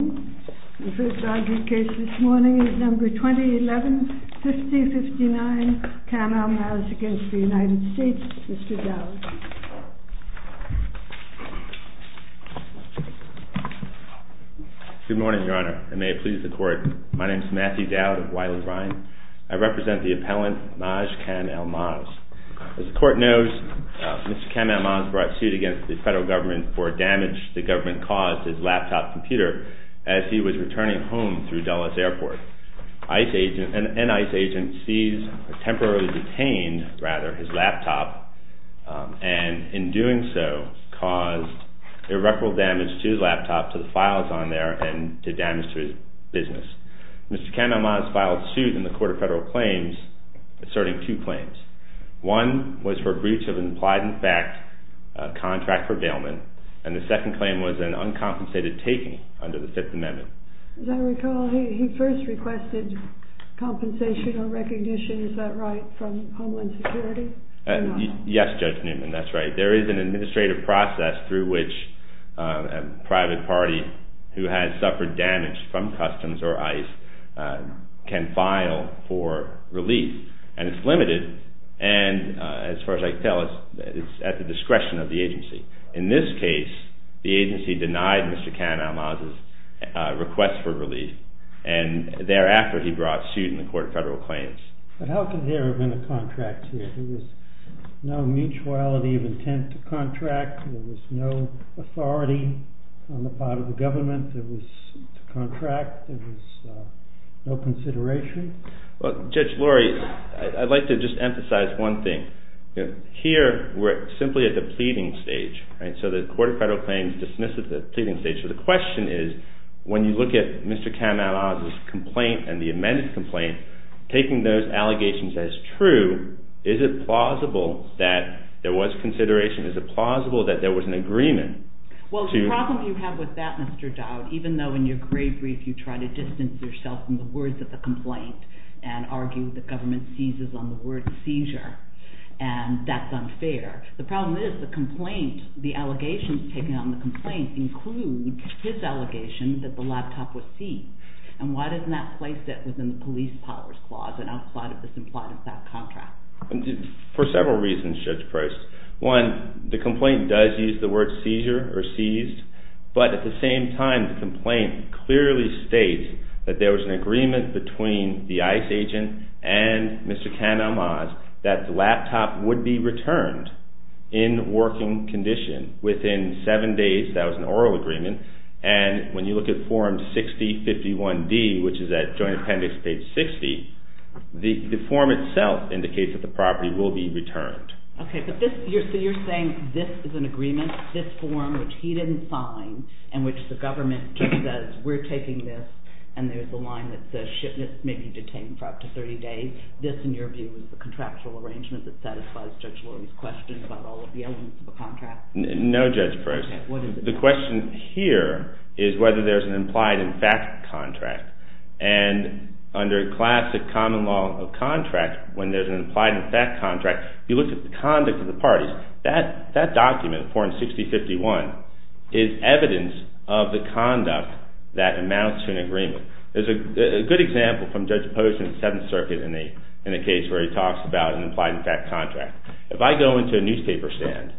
Mr. Dowd. Good morning, Your Honor. I may please the Court. My name is Matthew Dowd of Wiley-Ryan. I represent the appellant Maj Kam-Almaz. As the Court knows, Mr. Kam-Almaz brought suit against the federal government for damage the government caused his laptop computer as he was returning home through Dulles Airport. ICE agents and ICE agencies temporarily detained, rather, his laptop, and in doing so caused irreparable damage to his laptop, to the files on there, and to damage to his business. Mr. Kam-Almaz filed suit in the Court of Federal Claims asserting two claims. One was for breach of an implied-in-fact contract for bailment, and the second claim was an uncompensated taking under the Fifth Amendment. As I recall, he first requested compensation or recognition, is that right, from Homeland Security? Yes, Judge Newman, that's right. There is an administrative process through which a private party who has suffered damage from customs or ICE can file for relief, and it's limited, and as far as I can tell, it's at the discretion of the agency. In this case, the agency denied Mr. Kam-Almaz's request for relief, and thereafter he brought suit in the Court of Federal Claims. But how could there have been a contract here? There was no mutuality of intent to contract, there was no authority on the part of the agency. Well, Judge Laurie, I'd like to just emphasize one thing. Here, we're simply at the pleading stage, so the Court of Federal Claims dismissed it at the pleading stage. So the question is, when you look at Mr. Kam-Almaz's complaint and the amended complaint, taking those allegations as true, is it plausible that there was consideration, is it plausible that there was an agreement? Well, the problem you have with that, Mr. Dowd, even though in your great brief you try to distance yourself from the words of the complaint and argue that government seizes on the word seizure, and that's unfair, the problem is the complaint, the allegations taken on the complaint include his allegation that the laptop was seized. And why doesn't that place it within the police powers clause, and how is this implied in that contract? For several reasons, Judge Price. One, the complaint does use the word seizure or seized, but at the same time, the complaint clearly states that there was an agreement between the ICE agent and Mr. Kam-Almaz that the laptop would be returned in working condition within seven days, that was an oral agreement, and when you look at form 6051-D, which is at Joint Appendix page 60, the form itself indicates that the property will be returned. Okay, but you're saying this is an agreement, this form, which he didn't sign, and which the government just says, we're taking this, and there's a line that says shipment may be detained for up to 30 days, this in your view is the contractual arrangement that satisfies Judge Lurie's question about all of the elements of a contract? No, Judge Price. The question here is whether there's an implied in fact contract, and under classic common law of contract, when there's an implied in fact contract, you look at the conduct of the parties, that document, form 6051, is evidence of the conduct that amounts to an agreement. There's a good example from Judge Post in the 7th Circuit in a case where he talks about an implied in fact contract. If I go into a newspaper stand,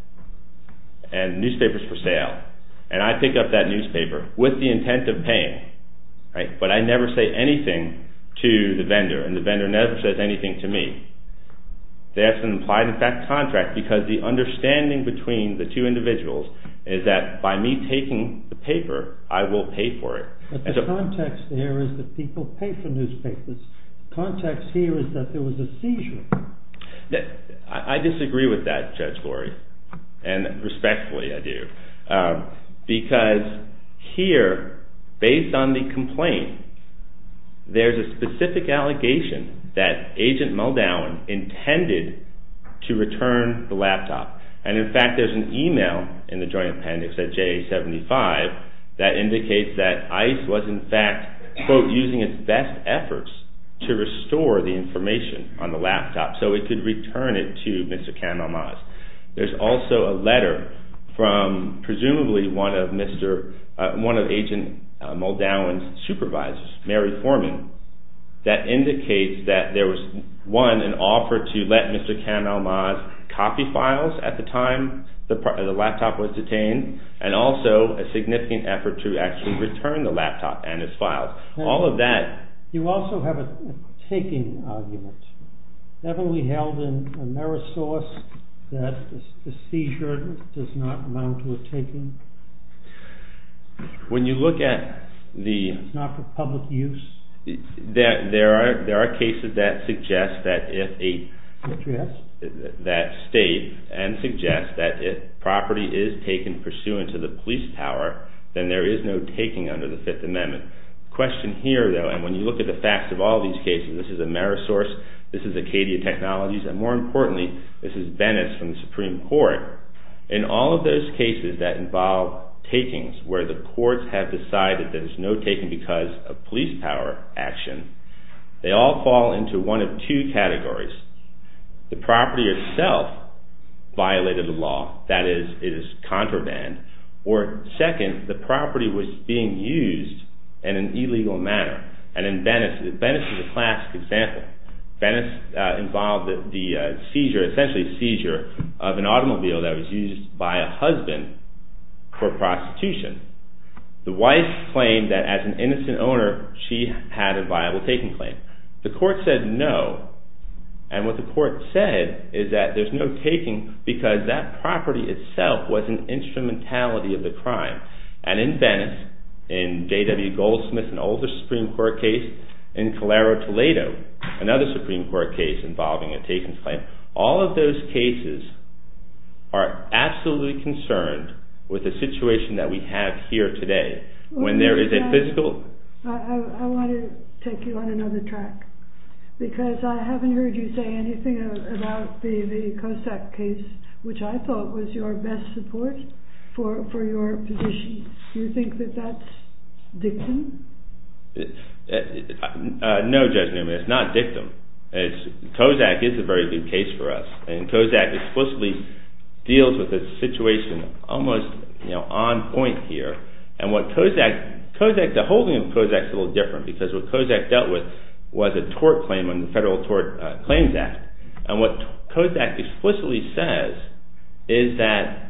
and newspapers for sale, and I pick up that newspaper with the intent of paying, but I never say anything to the vendor, and the vendor never says anything to me, that's an implied in fact contract, because the understanding between the two individuals is that by me taking the paper, I will pay for it. But the context there is that people pay for newspapers. The context here is that there was a seizure. I disagree with that, Judge Lurie, and respectfully I do, because here, based on the complaint, there's a specific allegation that Agent Muldowen intended to return the laptop, and in fact there's an email in the Joint Appendix at JA-75 that indicates that ICE was in fact, quote, using its best efforts to restore the information on the laptop, so it could return it to Mr. Kahn-Almaz. There's also a letter from presumably one of Agent Muldowen's supervisors, Mary Forman, that indicates that there was one, an offer to let Mr. Kahn-Almaz copy files at the time the laptop was detained, and also a significant effort to actually return the laptop and its files. You also have a taking argument. Haven't we held in Amerisource that a seizure does not amount to a taking? It's not for public use? There are cases that state and suggest that if property is taken pursuant to the police power, then there is no taking under the Fifth Amendment. The question here, though, and when you look at the facts of all these cases, this is Amerisource, this is Acadia Technologies, and more importantly, this is Venice from the Supreme Court, in all of those cases that involve takings where the courts have decided there's no taking because of police power action, they all fall into one of two categories. The property itself violated the law, that is, it is contraband, or second, the property was being used in an illegal manner. Venice is a classic example. Venice involved the seizure, essentially a seizure, of an automobile that was used by a husband for prostitution. The wife claimed that as an innocent owner, she had a viable taking claim. The court said no, and what the court said is that there's no taking because that property itself was an instrumentality of the crime. And in Venice, in J.W. Goldsmith, an older Supreme Court case, in Calero Toledo, another Supreme Court case involving a takings claim, all of those cases are absolutely concerned with the situation that we have here today. When there is a physical... I want to take you on another track, because I haven't heard you say anything about the Kozak case, which I thought was your best support for your position. Do you think that that's dictum? No, Judge Newman, it's not dictum. Kozak is a very good case for us, and Kozak explicitly deals with the situation almost on point here, and what Kozak, the holding of Kozak is a little different because what Kozak dealt with was a tort claim in the Federal Tort Claims Act. And what Kozak explicitly says is that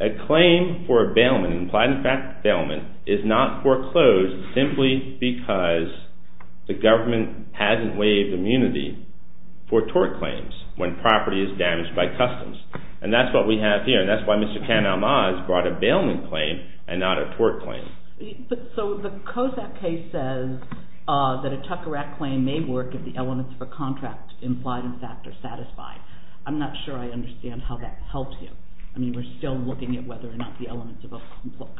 a claim for a bailment, implied in fact bailment, is not foreclosed simply because the government hasn't waived immunity for tort claims when property is damaged by customs. And that's what we have here, and that's why Mr. Kan-Almaz brought a bailment claim and not a tort claim. So the Kozak case says that a Tucker Act claim may work if the elements of a contract implied in fact are satisfied. I'm not sure I understand how that helps you. I mean, we're still looking at whether or not the elements of a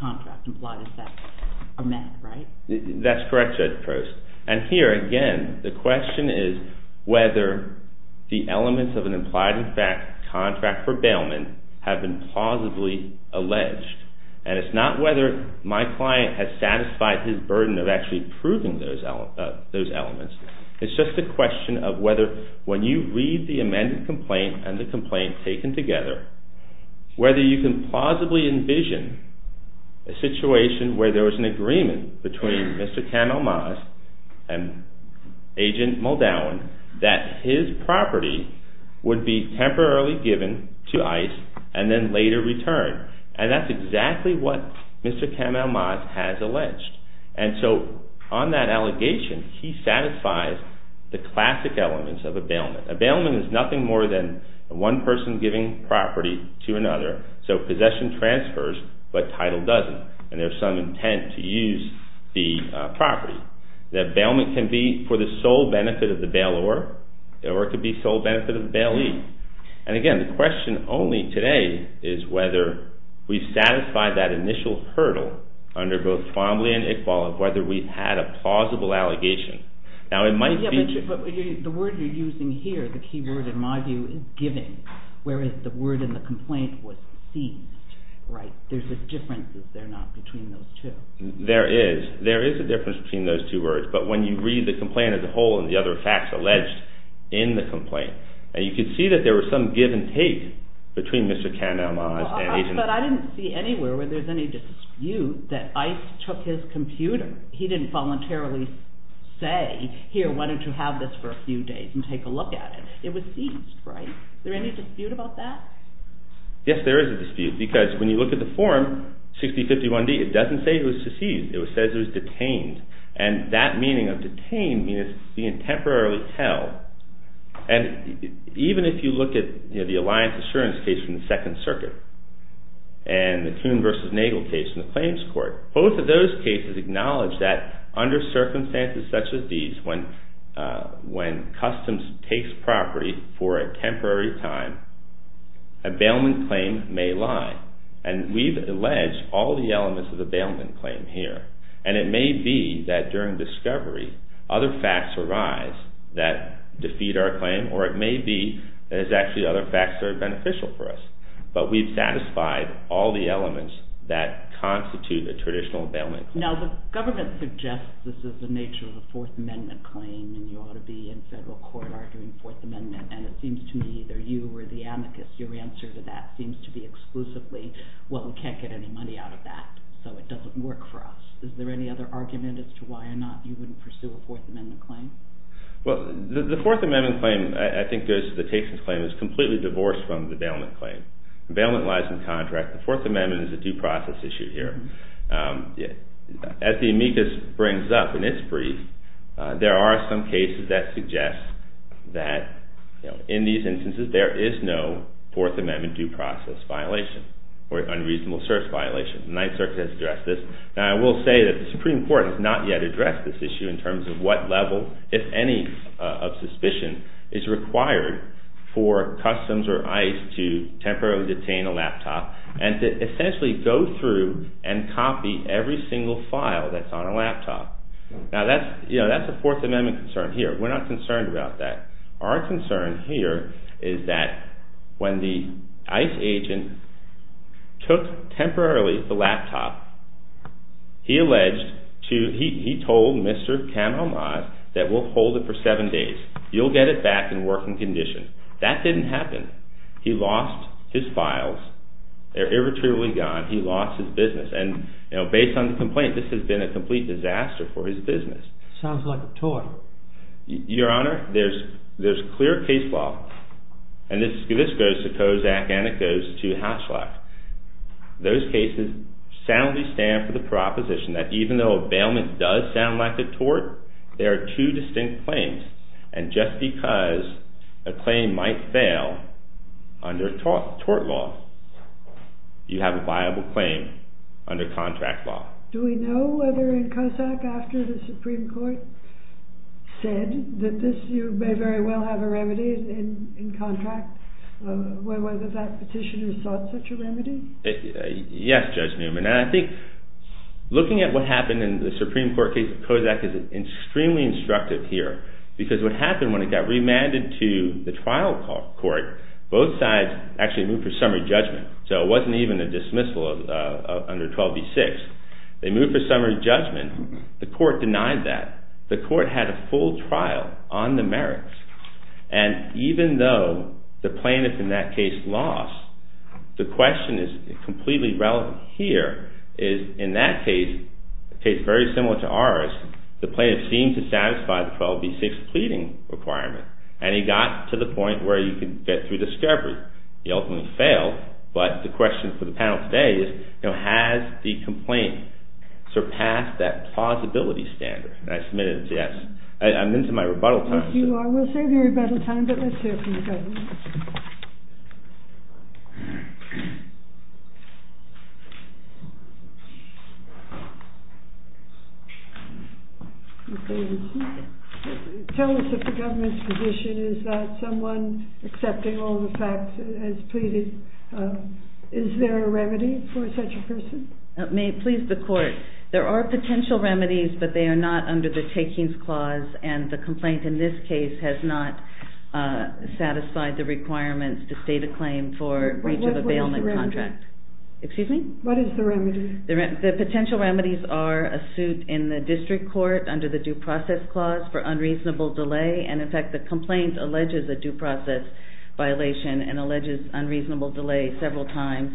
contract implied in fact are met, right? That's correct, Judge Post. And here, again, the question is whether the elements of an implied in fact contract for bailment have been plausibly alleged. And it's not whether my client has satisfied his burden of actually proving those elements. It's just a question of whether when you read the amended complaint and the complaint taken together, whether you can plausibly envision a situation where there was an agreement between Mr. Kan-Almaz and Agent Muldown that his property would be temporarily given to ICE and then later returned. And that's exactly what Mr. Kan-Almaz has alleged. And so on that allegation, he satisfies the classic elements of a bailment. A bailment is nothing more than one person giving property to another. So possession transfers, but title doesn't. And there's some intent to use the property. The bailment can be for the sole benefit of the bailor, or it could be sole benefit of the bailee. And again, the question only today is whether we satisfy that initial hurdle under both Fombly and Iqbal of whether we've had a plausible allegation. Now it might be... But the word you're using here, the key word in my view, is giving, whereas the word in the complaint was seized, right? There's a difference, is there not, between those two? There is. There is a difference between those two words. But when you read the complaint as a whole and the other facts alleged in the complaint, you can see that there was some give and take between Mr. Kan-Almaz and Agent... But I didn't see anywhere where there's any dispute that ICE took his computer. He didn't voluntarily say, here, why don't you have this for a few days and take a look at it. It was seized, right? Is there any dispute about that? Yes, there is a dispute, because when you look at the form 6051-D, it doesn't say it was seized. It says it was detained. And that meaning of detained means being temporarily held. And even if you look at the Alliance Assurance case from the Second Circuit and the Coon v. Nagel case in the Claims Court, both of those cases acknowledge that under circumstances such as these, when customs takes property for a temporary time, a bailment claim may lie. And we've alleged all the elements of a bailment claim here. And it may be that during discovery, other facts arise that defeat our claim, or it may be that there's actually other facts that are beneficial for us. But we've satisfied all the elements that constitute a traditional bailment claim. Now, the government suggests this is the nature of a Fourth Amendment claim, and you ought to be in federal court arguing Fourth Amendment, and it seems to me either you or the amicus, your answer to that seems to be exclusively, well, we can't get any money out of that, so it doesn't work for us. Is there any other argument as to why or not you wouldn't pursue a Fourth Amendment claim? Well, the Fourth Amendment claim, I think, goes to the case that the claim is completely divorced from the bailment claim. Bailment lies in contract. The Fourth Amendment is a due process issue here. As the amicus brings up in its brief, there are some cases that suggest that, in these instances, there is no Fourth Amendment due process violation or unreasonable search violation. The Ninth Circuit has addressed this. Now, I will say that the Supreme Court has not yet addressed this issue in terms of what level, if any, of suspicion is required for customs or ICE to temporarily detain a laptop and to essentially go through and copy every single file that's on a laptop. Now, that's a Fourth Amendment concern here. We're not concerned about that. Our concern here is that when the ICE agent took temporarily the laptop, he told Mr. Kamal Maaz that we'll hold it for seven days. You'll get it back in working condition. That didn't happen. He lost his files. They're irretrievably gone. He lost his business, and based on the complaint, this has been a complete disaster for his business. Sounds like a toy. Your Honor, there's clear case law, and this goes to Kozak and it goes to Haslack. Those cases soundly stand for the proposition that even though a bailment does sound like a tort, there are two distinct claims, and just because a claim might fail under tort law, you have a viable claim under contract law. Do we know whether in Kozak, after the Supreme Court said that this, you may very well have a remedy in contract, whether that petitioner sought such a remedy? Yes, Judge Newman, and I think looking at what happened in the Supreme Court case of Kozak is extremely instructive here, because what happened when it got remanded to the trial court, both sides actually moved for summary judgment, so it wasn't even a dismissal under 12b-6. They moved for summary judgment. The court denied that. The court had a full trial on the merits, and even though the plaintiff in that case lost, the question is completely relevant here, is in that case, a case very similar to ours, the plaintiff seemed to satisfy the 12b-6 pleading requirement, and he got to the point where he could get through discovery. He ultimately failed, but the question for the panel today is, has the complaint surpassed that plausibility standard? And I submit it as yes. I'm into my rebuttal time. I will save your rebuttal time, but let's hear from the government. Tell us if the government's position is that someone accepting all the facts has pleaded. Is there a remedy for such a person? It may please the court. There are potential remedies, but they are not under the takings clause, and the complaint in this case has not satisfied that standard. What is the remedy? The potential remedies are a suit in the district court under the due process clause for unreasonable delay, and, in fact, the complaint alleges a due process violation and alleges unreasonable delay several times.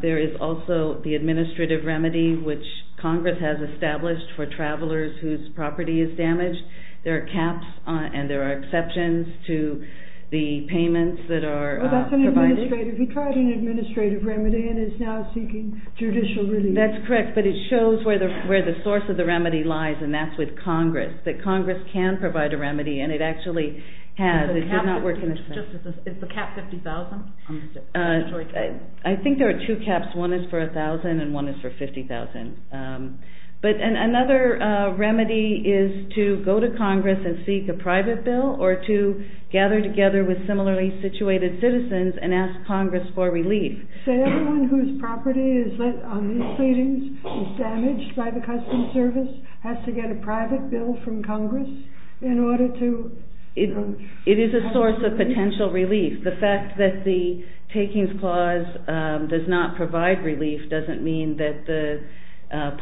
There is also the administrative remedy, which Congress has established for travelers whose property is damaged. There are caps and there are exceptions to the payments that are provided. Oh, that's an administrative. He tried an administrative remedy and is now seeking judicial relief. That's correct, but it shows where the source of the remedy lies, and that's with Congress, that Congress can provide a remedy, and it actually has. It does not work in this case. Is the cap $50,000? I think there are two caps. One is for $1,000 and one is for $50,000. But another remedy is to go to Congress and seek a private bill or to gather together with similarly situated citizens and ask Congress for relief. So everyone whose property is on these cleanings is damaged by the Customs Service has to get a private bill from Congress in order to have relief? It is a source of potential relief. The fact that the takings clause does not provide relief doesn't mean that the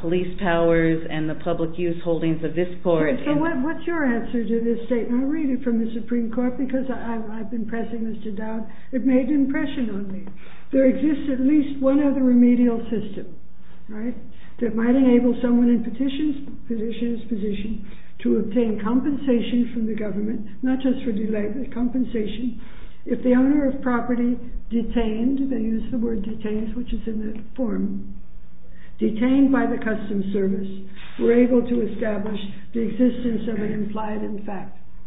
police powers and the public use holdings of this court. What's your answer to this statement? I read it from the Supreme Court because I've been pressing this to doubt. It made an impression on me. There exists at least one other remedial system that might enable someone in petition's position to obtain compensation from the government, not just for delay, but compensation. If the owner of property detained, they use the word detained, which is in the form, detained by the Customs Service, we're able to establish the existence of an implied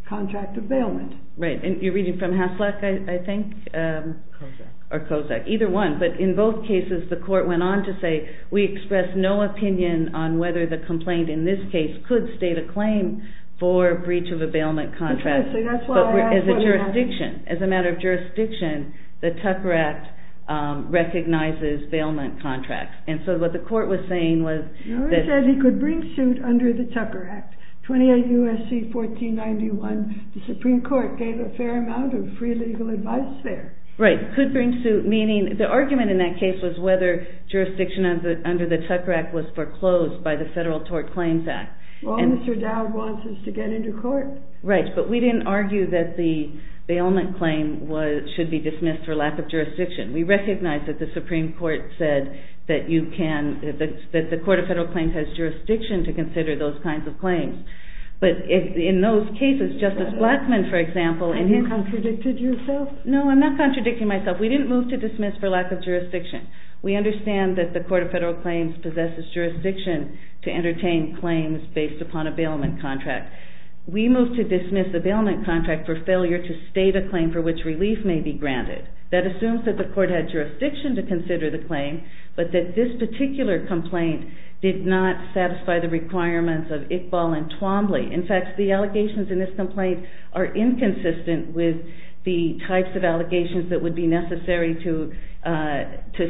contract of bailment. Right. And you're reading from Hasluck, I think? Kozak. Or Kozak. Either one. But in both cases, the court went on to say, we express no opinion on whether the complaint in this case could state a claim for breach of a bailment contract as a jurisdiction. As a matter of jurisdiction, the Tucker Act recognizes bailment contracts. And so what the court was saying was... Norris said he could bring suit under the Tucker Act. 28 U.S.C. 1491, the Supreme Court gave a fair amount of free legal advice there. Right. Could bring suit, meaning... The argument in that case was whether jurisdiction under the Tucker Act was foreclosed by the Federal Tort Claims Act. All Mr. Dowd wants is to get into court. Right. But we didn't argue that the bailment claim should be dismissed for lack of jurisdiction. We recognize that the Supreme Court said that the Court of Federal Claims has jurisdiction to consider those kinds of claims. But in those cases, Justice Blackmun, for example... And you contradicted yourself? No, I'm not contradicting myself. We didn't move to dismiss for lack of jurisdiction. We understand that the Court of Federal Claims possesses jurisdiction to entertain claims based upon a bailment contract. We moved to dismiss a bailment contract for failure to state a claim for which relief may be granted. That assumes that the Court had jurisdiction to consider the claim, but that this particular complaint did not satisfy the requirements of Iqbal and Twombly. In fact, the allegations in this complaint are inconsistent with the types of allegations that would be necessary to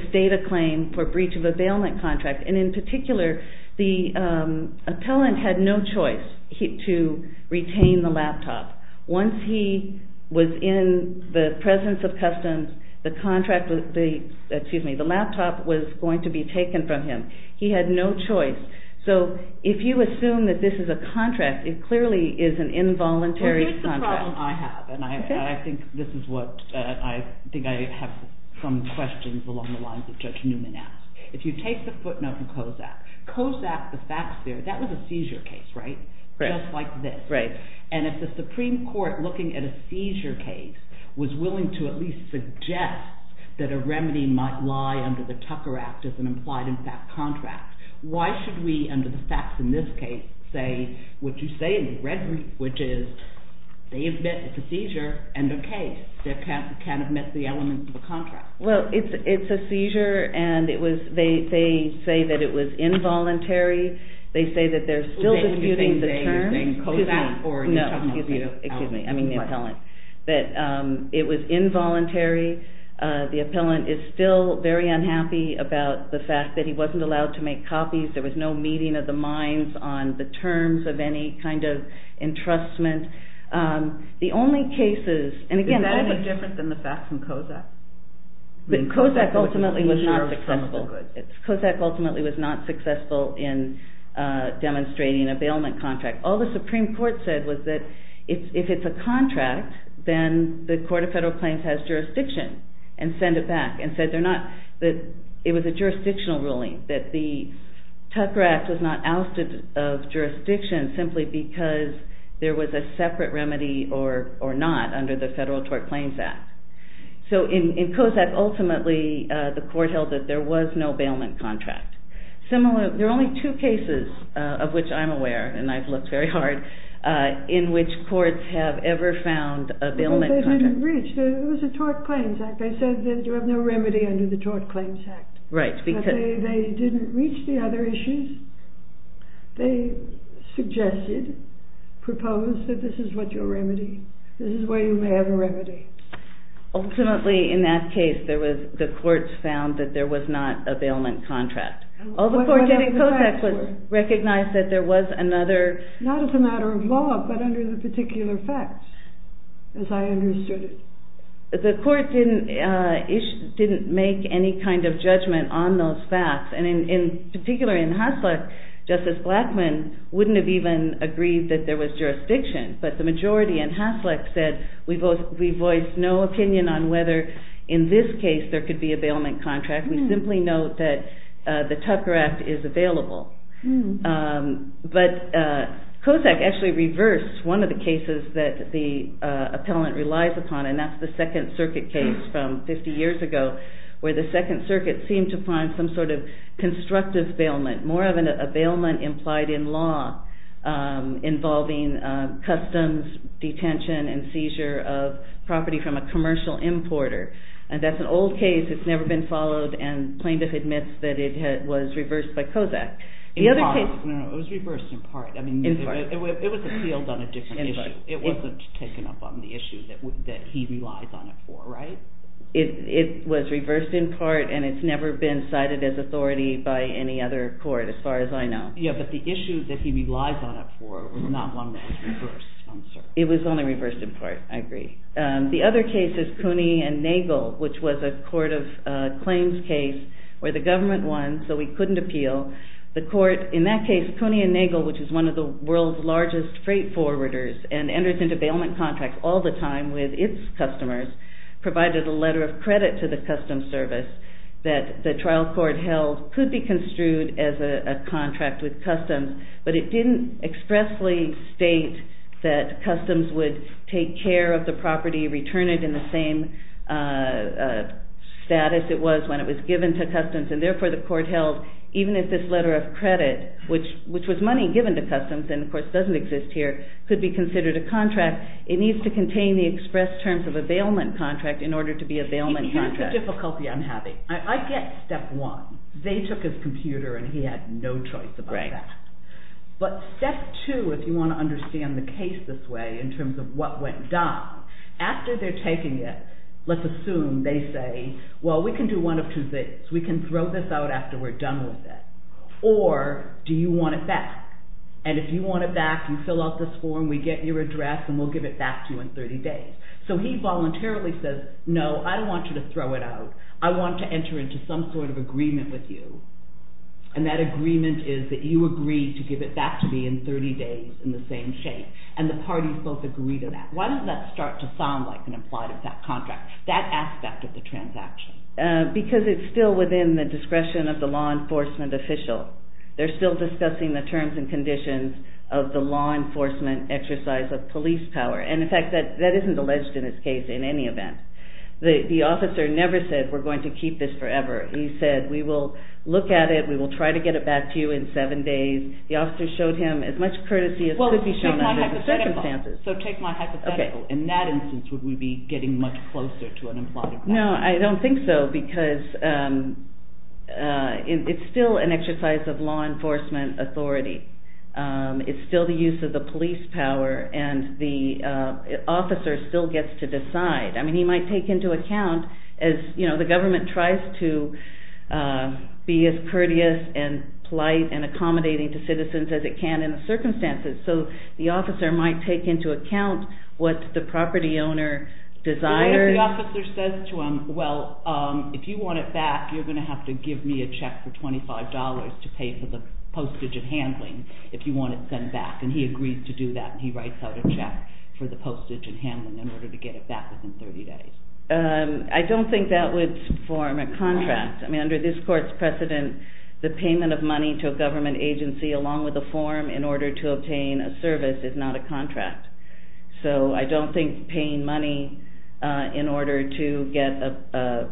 state a claim for breach of a bailment contract. And in particular, the appellant had no choice to retain the laptop. Once he was in the presence of customs, the laptop was going to be taken from him. He had no choice. So if you assume that this is a contract, it clearly is an involuntary contract. Well, here's the problem I have, and I think I have some questions along the lines that Judge Newman asked. If you take the footnote from COSAC, COSAC, the facts there, that was a seizure case, right? Just like this. Right. And if the Supreme Court, looking at a seizure case, was willing to at least suggest that a remedy might lie under the Tucker Act as an implied impact contract, why should we, under the facts in this case, say what you say in the red, which is they admit it's a seizure, and okay, they can't admit the elements of a contract. Well, it's a seizure, and they say that it was involuntary. They say that they're still disputing the term. COSAC? No, excuse me. I mean the appellant. That it was involuntary. The appellant is still very unhappy about the fact that he wasn't allowed to make copies. There was no meeting of the minds on the terms of any kind of entrustment. The only cases, and again, Is that any different than the facts in COSAC? COSAC ultimately was not successful. COSAC ultimately was not successful in demonstrating a bailment contract. All the Supreme Court said was that if it's a contract, then the Court of Federal Claims has jurisdiction and send it back, and said it was a jurisdictional ruling, that the Tucker Act was not ousted of jurisdiction simply because there was a separate remedy or not under the Federal Tort Claims Act. So in COSAC, ultimately, the Court held that there was no bailment contract. There are only two cases of which I'm aware, and I've looked very hard, in which courts have ever found a bailment contract. It was a Tort Claims Act. They said that you have no remedy under the Tort Claims Act. They didn't reach the other issues. They suggested, proposed that this is what your remedy, this is where you may have a remedy. Ultimately, in that case, the courts found that there was not a bailment contract. All the court did in COSAC was recognize that there was another... Not as a matter of law, but under the particular facts, as I understood it. The court didn't make any kind of judgment on those facts, and in particular in Hasluck, Justice Blackmun wouldn't have even agreed that there was jurisdiction. But the majority in Hasluck said, we voiced no opinion on whether in this case there could be a bailment contract. We simply note that the Tucker Act is available. But COSAC actually reversed one of the cases that the appellant relies upon, and that's the Second Circuit case from 50 years ago, where the Second Circuit seemed to find some sort of constructive bailment, more of a bailment implied in law involving customs, detention, and seizure of property from a commercial importer. And that's an old case that's never been followed, and plaintiff admits that it was reversed by COSAC. It was reversed in part. It was appealed on a different issue. It wasn't taken up on the issue that he relies on it for, right? It was reversed in part, and it's never been cited as authority by any other court, as far as I know. Yeah, but the issue that he relies on it for was not one that was reversed. It was only reversed in part. I agree. The other case is Cooney v. Nagel, which was a court of claims case where the government won, so we couldn't appeal. In that case, Cooney v. Nagel, which is one of the world's largest freight forwarders and enters into bailment contracts all the time with its customers, provided a letter of credit to the Customs Service that the trial court held could be construed as a contract with Customs, but it didn't expressly state that Customs would take care of the property, return it in the same status it was when it was given to Customs, which was money given to Customs and, of course, doesn't exist here, could be considered a contract. It needs to contain the express terms of a bailment contract in order to be a bailment contract. Here's the difficulty I'm having. I get step one. They took his computer, and he had no choice about that. But step two, if you want to understand the case this way in terms of what went down, after they're taking it, let's assume they say, well, we can do one of two things. We can throw this out after we're done with it. Or do you want it back? And if you want it back, you fill out this form, we get your address, and we'll give it back to you in 30 days. So he voluntarily says, no, I don't want you to throw it out. I want to enter into some sort of agreement with you, and that agreement is that you agree to give it back to me in 30 days in the same shape, and the parties both agree to that. Why does that start to sound like an implied effect contract, that aspect of the transaction? Because it's still within the discretion of the law enforcement official. They're still discussing the terms and conditions of the law enforcement exercise of police power. And, in fact, that isn't alleged in this case in any event. The officer never said, we're going to keep this forever. He said, we will look at it, we will try to get it back to you in seven days. The officer showed him as much courtesy as could be shown under the circumstances. So take my hypothetical. In that instance, would we be getting much closer to an implied effect? No, I don't think so, because it's still an exercise of law enforcement authority. It's still the use of the police power, and the officer still gets to decide. I mean, he might take into account, you know, the government tries to be as courteous and polite and accommodating to citizens as it can in the circumstances. So the officer might take into account what the property owner desires. And if the officer says to him, well, if you want it back, you're going to have to give me a check for $25 to pay for the postage and handling if you want it sent back. And he agrees to do that, and he writes out a check for the postage and handling in order to get it back within 30 days. I don't think that would form a contract. I mean, under this court's precedent, the payment of money to a government agency along with a form in order to obtain a service is not a contract. So I don't think paying money in order to get a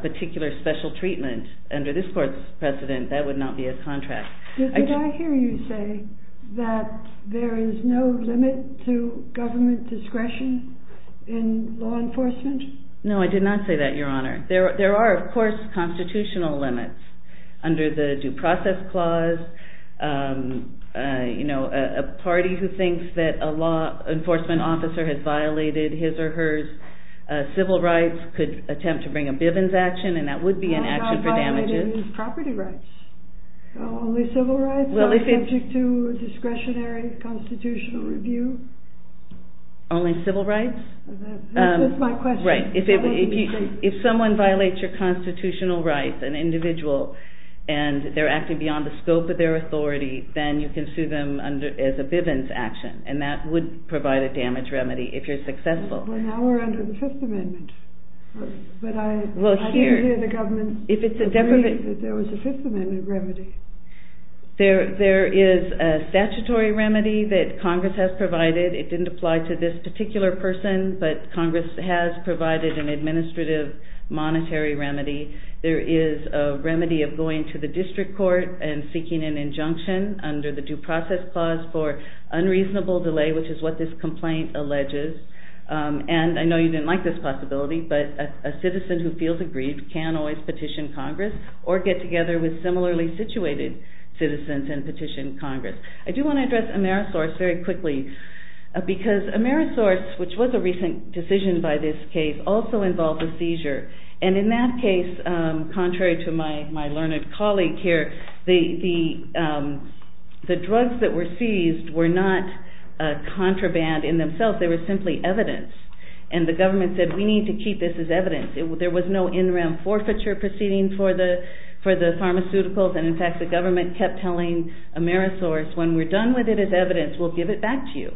particular special treatment, under this court's precedent, that would not be a contract. Did I hear you say that there is no limit to government discretion in law enforcement? No, I did not say that, Your Honor. There are, of course, constitutional limits. Under the Due Process Clause, a party who thinks that a law enforcement officer has violated his or hers civil rights could attempt to bring a Bivens action, and that would be an action for damages. I'm not violating his property rights. Only civil rights subject to discretionary constitutional review? Only civil rights? That's my question. Right. If someone violates your constitutional rights, an individual, and they're acting beyond the scope of their authority, then you can sue them as a Bivens action, and that would provide a damage remedy if you're successful. Well, now we're under the Fifth Amendment. But I didn't hear the government agree that there was a Fifth Amendment remedy. There is a statutory remedy that Congress has provided. It didn't apply to this particular person, but Congress has provided an administrative monetary remedy. There is a remedy of going to the district court and seeking an injunction under the Due Process Clause for unreasonable delay, which is what this complaint alleges. And I know you didn't like this possibility, but a citizen who feels aggrieved can always petition Congress or get together with similarly situated citizens and petition Congress. I do want to address Amerisource very quickly, because Amerisource, which was a recent decision by this case, also involved a seizure. And in that case, contrary to my learned colleague here, the drugs that were seized were not contraband in themselves. They were simply evidence. And the government said, we need to keep this as evidence. There was no in-rem forfeiture proceeding for the pharmaceuticals, and in fact, the government kept telling Amerisource, when we're done with it as evidence, we'll give it back to you.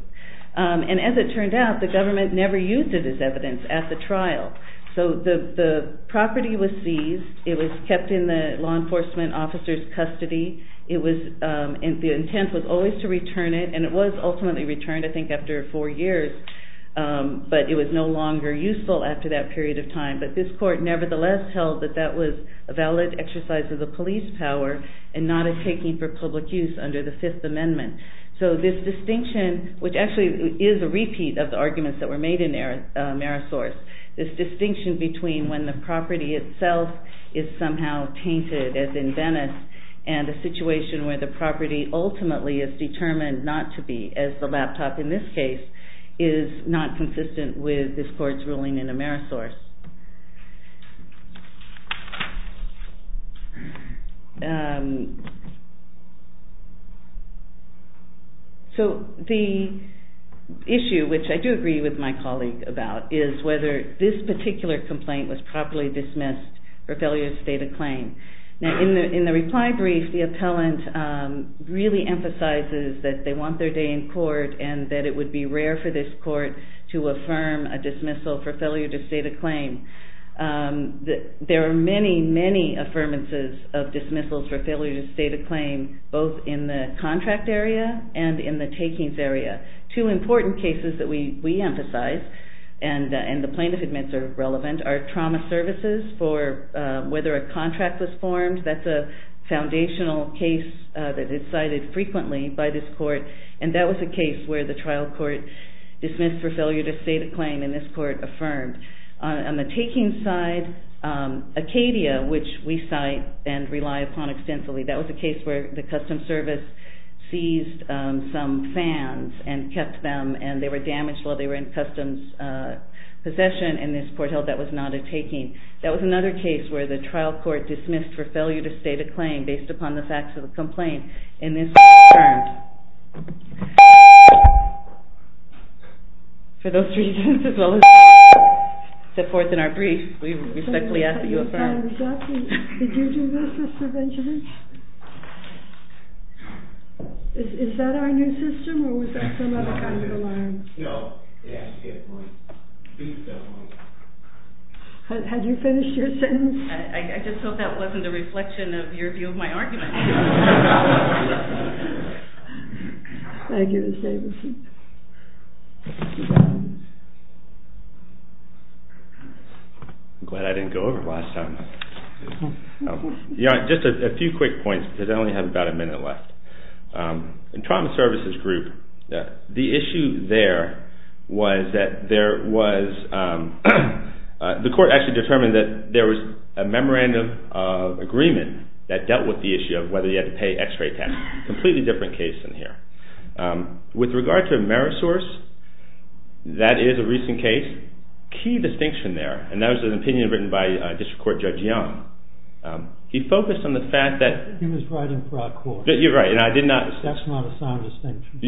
And as it turned out, the government never used it as evidence at the trial. So the property was seized. It was kept in the law enforcement officer's custody. The intent was always to return it, and it was ultimately returned, I think, after four years. But this court nevertheless held that that was a valid exercise of the police power, and not a taking for public use under the Fifth Amendment. So this distinction, which actually is a repeat of the arguments that were made in Amerisource, this distinction between when the property itself is somehow tainted, as in Venice, and a situation where the property ultimately is determined not to be, as the laptop in this case, is not consistent with this court's ruling in Amerisource. So the issue, which I do agree with my colleague about, is whether this particular complaint was properly dismissed for failure to state a claim. Now, in the reply brief, the appellant really emphasizes that they want their day in court, and that it would be rare for this court to affirm a dismissal for failure to state a claim. There are many, many affirmances of dismissals for failure to state a claim, both in the contract area and in the takings area. Two important cases that we emphasize, and the plaintiff admits are relevant, are trauma services for whether a contract was formed. That's a foundational case that is cited frequently by this court, and that was a case where the trial court dismissed for failure to state a claim, and this court affirmed. On the taking side, Acadia, which we cite and rely upon extensively, that was a case where the customs service seized some fans and kept them, and they were damaged while they were in customs possession, and this court held that was not a taking. That was another case where the trial court dismissed for failure to state a claim based upon the facts of the complaint, and this court affirmed. For those reasons, as well as step forth in our brief, we respectfully ask that you affirm. Did you do this, Mr. Benjamin? Is that our new system, or was that some other kind of alarm? No. Had you finished your sentence? I just hope that wasn't a reflection of your view of my argument. Thank you, Ms. Davidson. I'm glad I didn't go over last time. Just a few quick points because I only have about a minute left. In trauma services group, the issue there was that there was the court actually determined that there was a memorandum of agreement that dealt with the issue of whether you had to pay x-ray tax. Completely different case in here. With regard to Amerisource, that is a recent case. Key distinction there, and that was an opinion written by District Court Judge Young. He focused on the fact that he was writing broad court. That's not a sound distinction.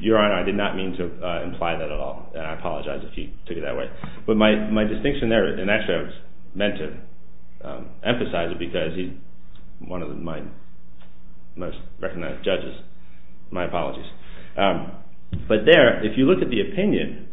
Your Honor, I did not mean to imply that at all, and I apologize if he took it that way. But my distinction there, and actually I was meant to emphasize it because he's one of my most recognized judges. My apologies. But there, if you look at the opinion,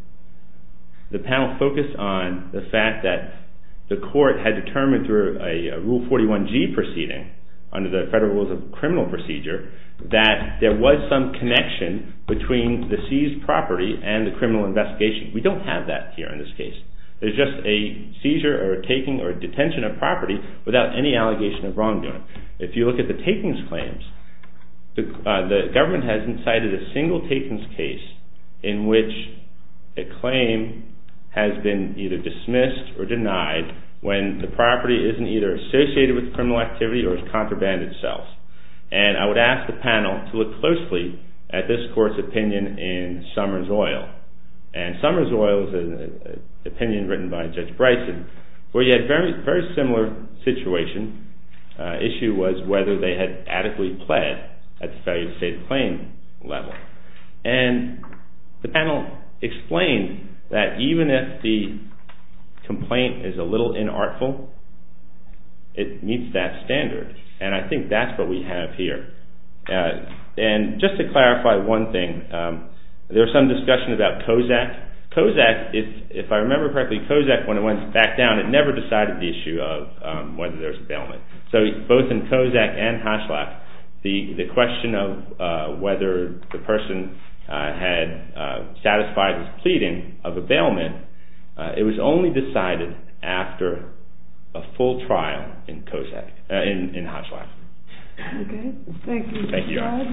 the panel focused on the fact that the court had determined through a Rule 41G proceeding under the Federal Rules of Criminal Procedure that there was some connection between the seized property and the criminal investigation. We don't have that here in this case. There's just a seizure or a taking or a detention of property without any allegation of wrongdoing. If you look at the takings claims, the government hasn't cited a single takings case in which a claim has been either dismissed or denied when the property isn't either associated with criminal activity or has contrabanded itself. And I would ask the panel to look closely at this court's opinion in Summers Oil. And Summers Oil is an opinion written by Judge Bryson where you had a very similar situation. The issue was whether they had adequately pled at the failure to state a claim level. And the panel explained that even if the complaint is a little inartful, it meets that standard. And I think that's what we have here. And just to clarify one thing, there was some discussion about COZAC. COZAC, if I remember correctly, when it went back down, it never decided the issue of whether there was a bailment. So both in COZAC and HOSHLAC, the question of whether the person had satisfied his pleading of a bailment, it was only decided after a full trial in COZAC, in HOSHLAC. Okay. Thank you. Thank you, Your Honor.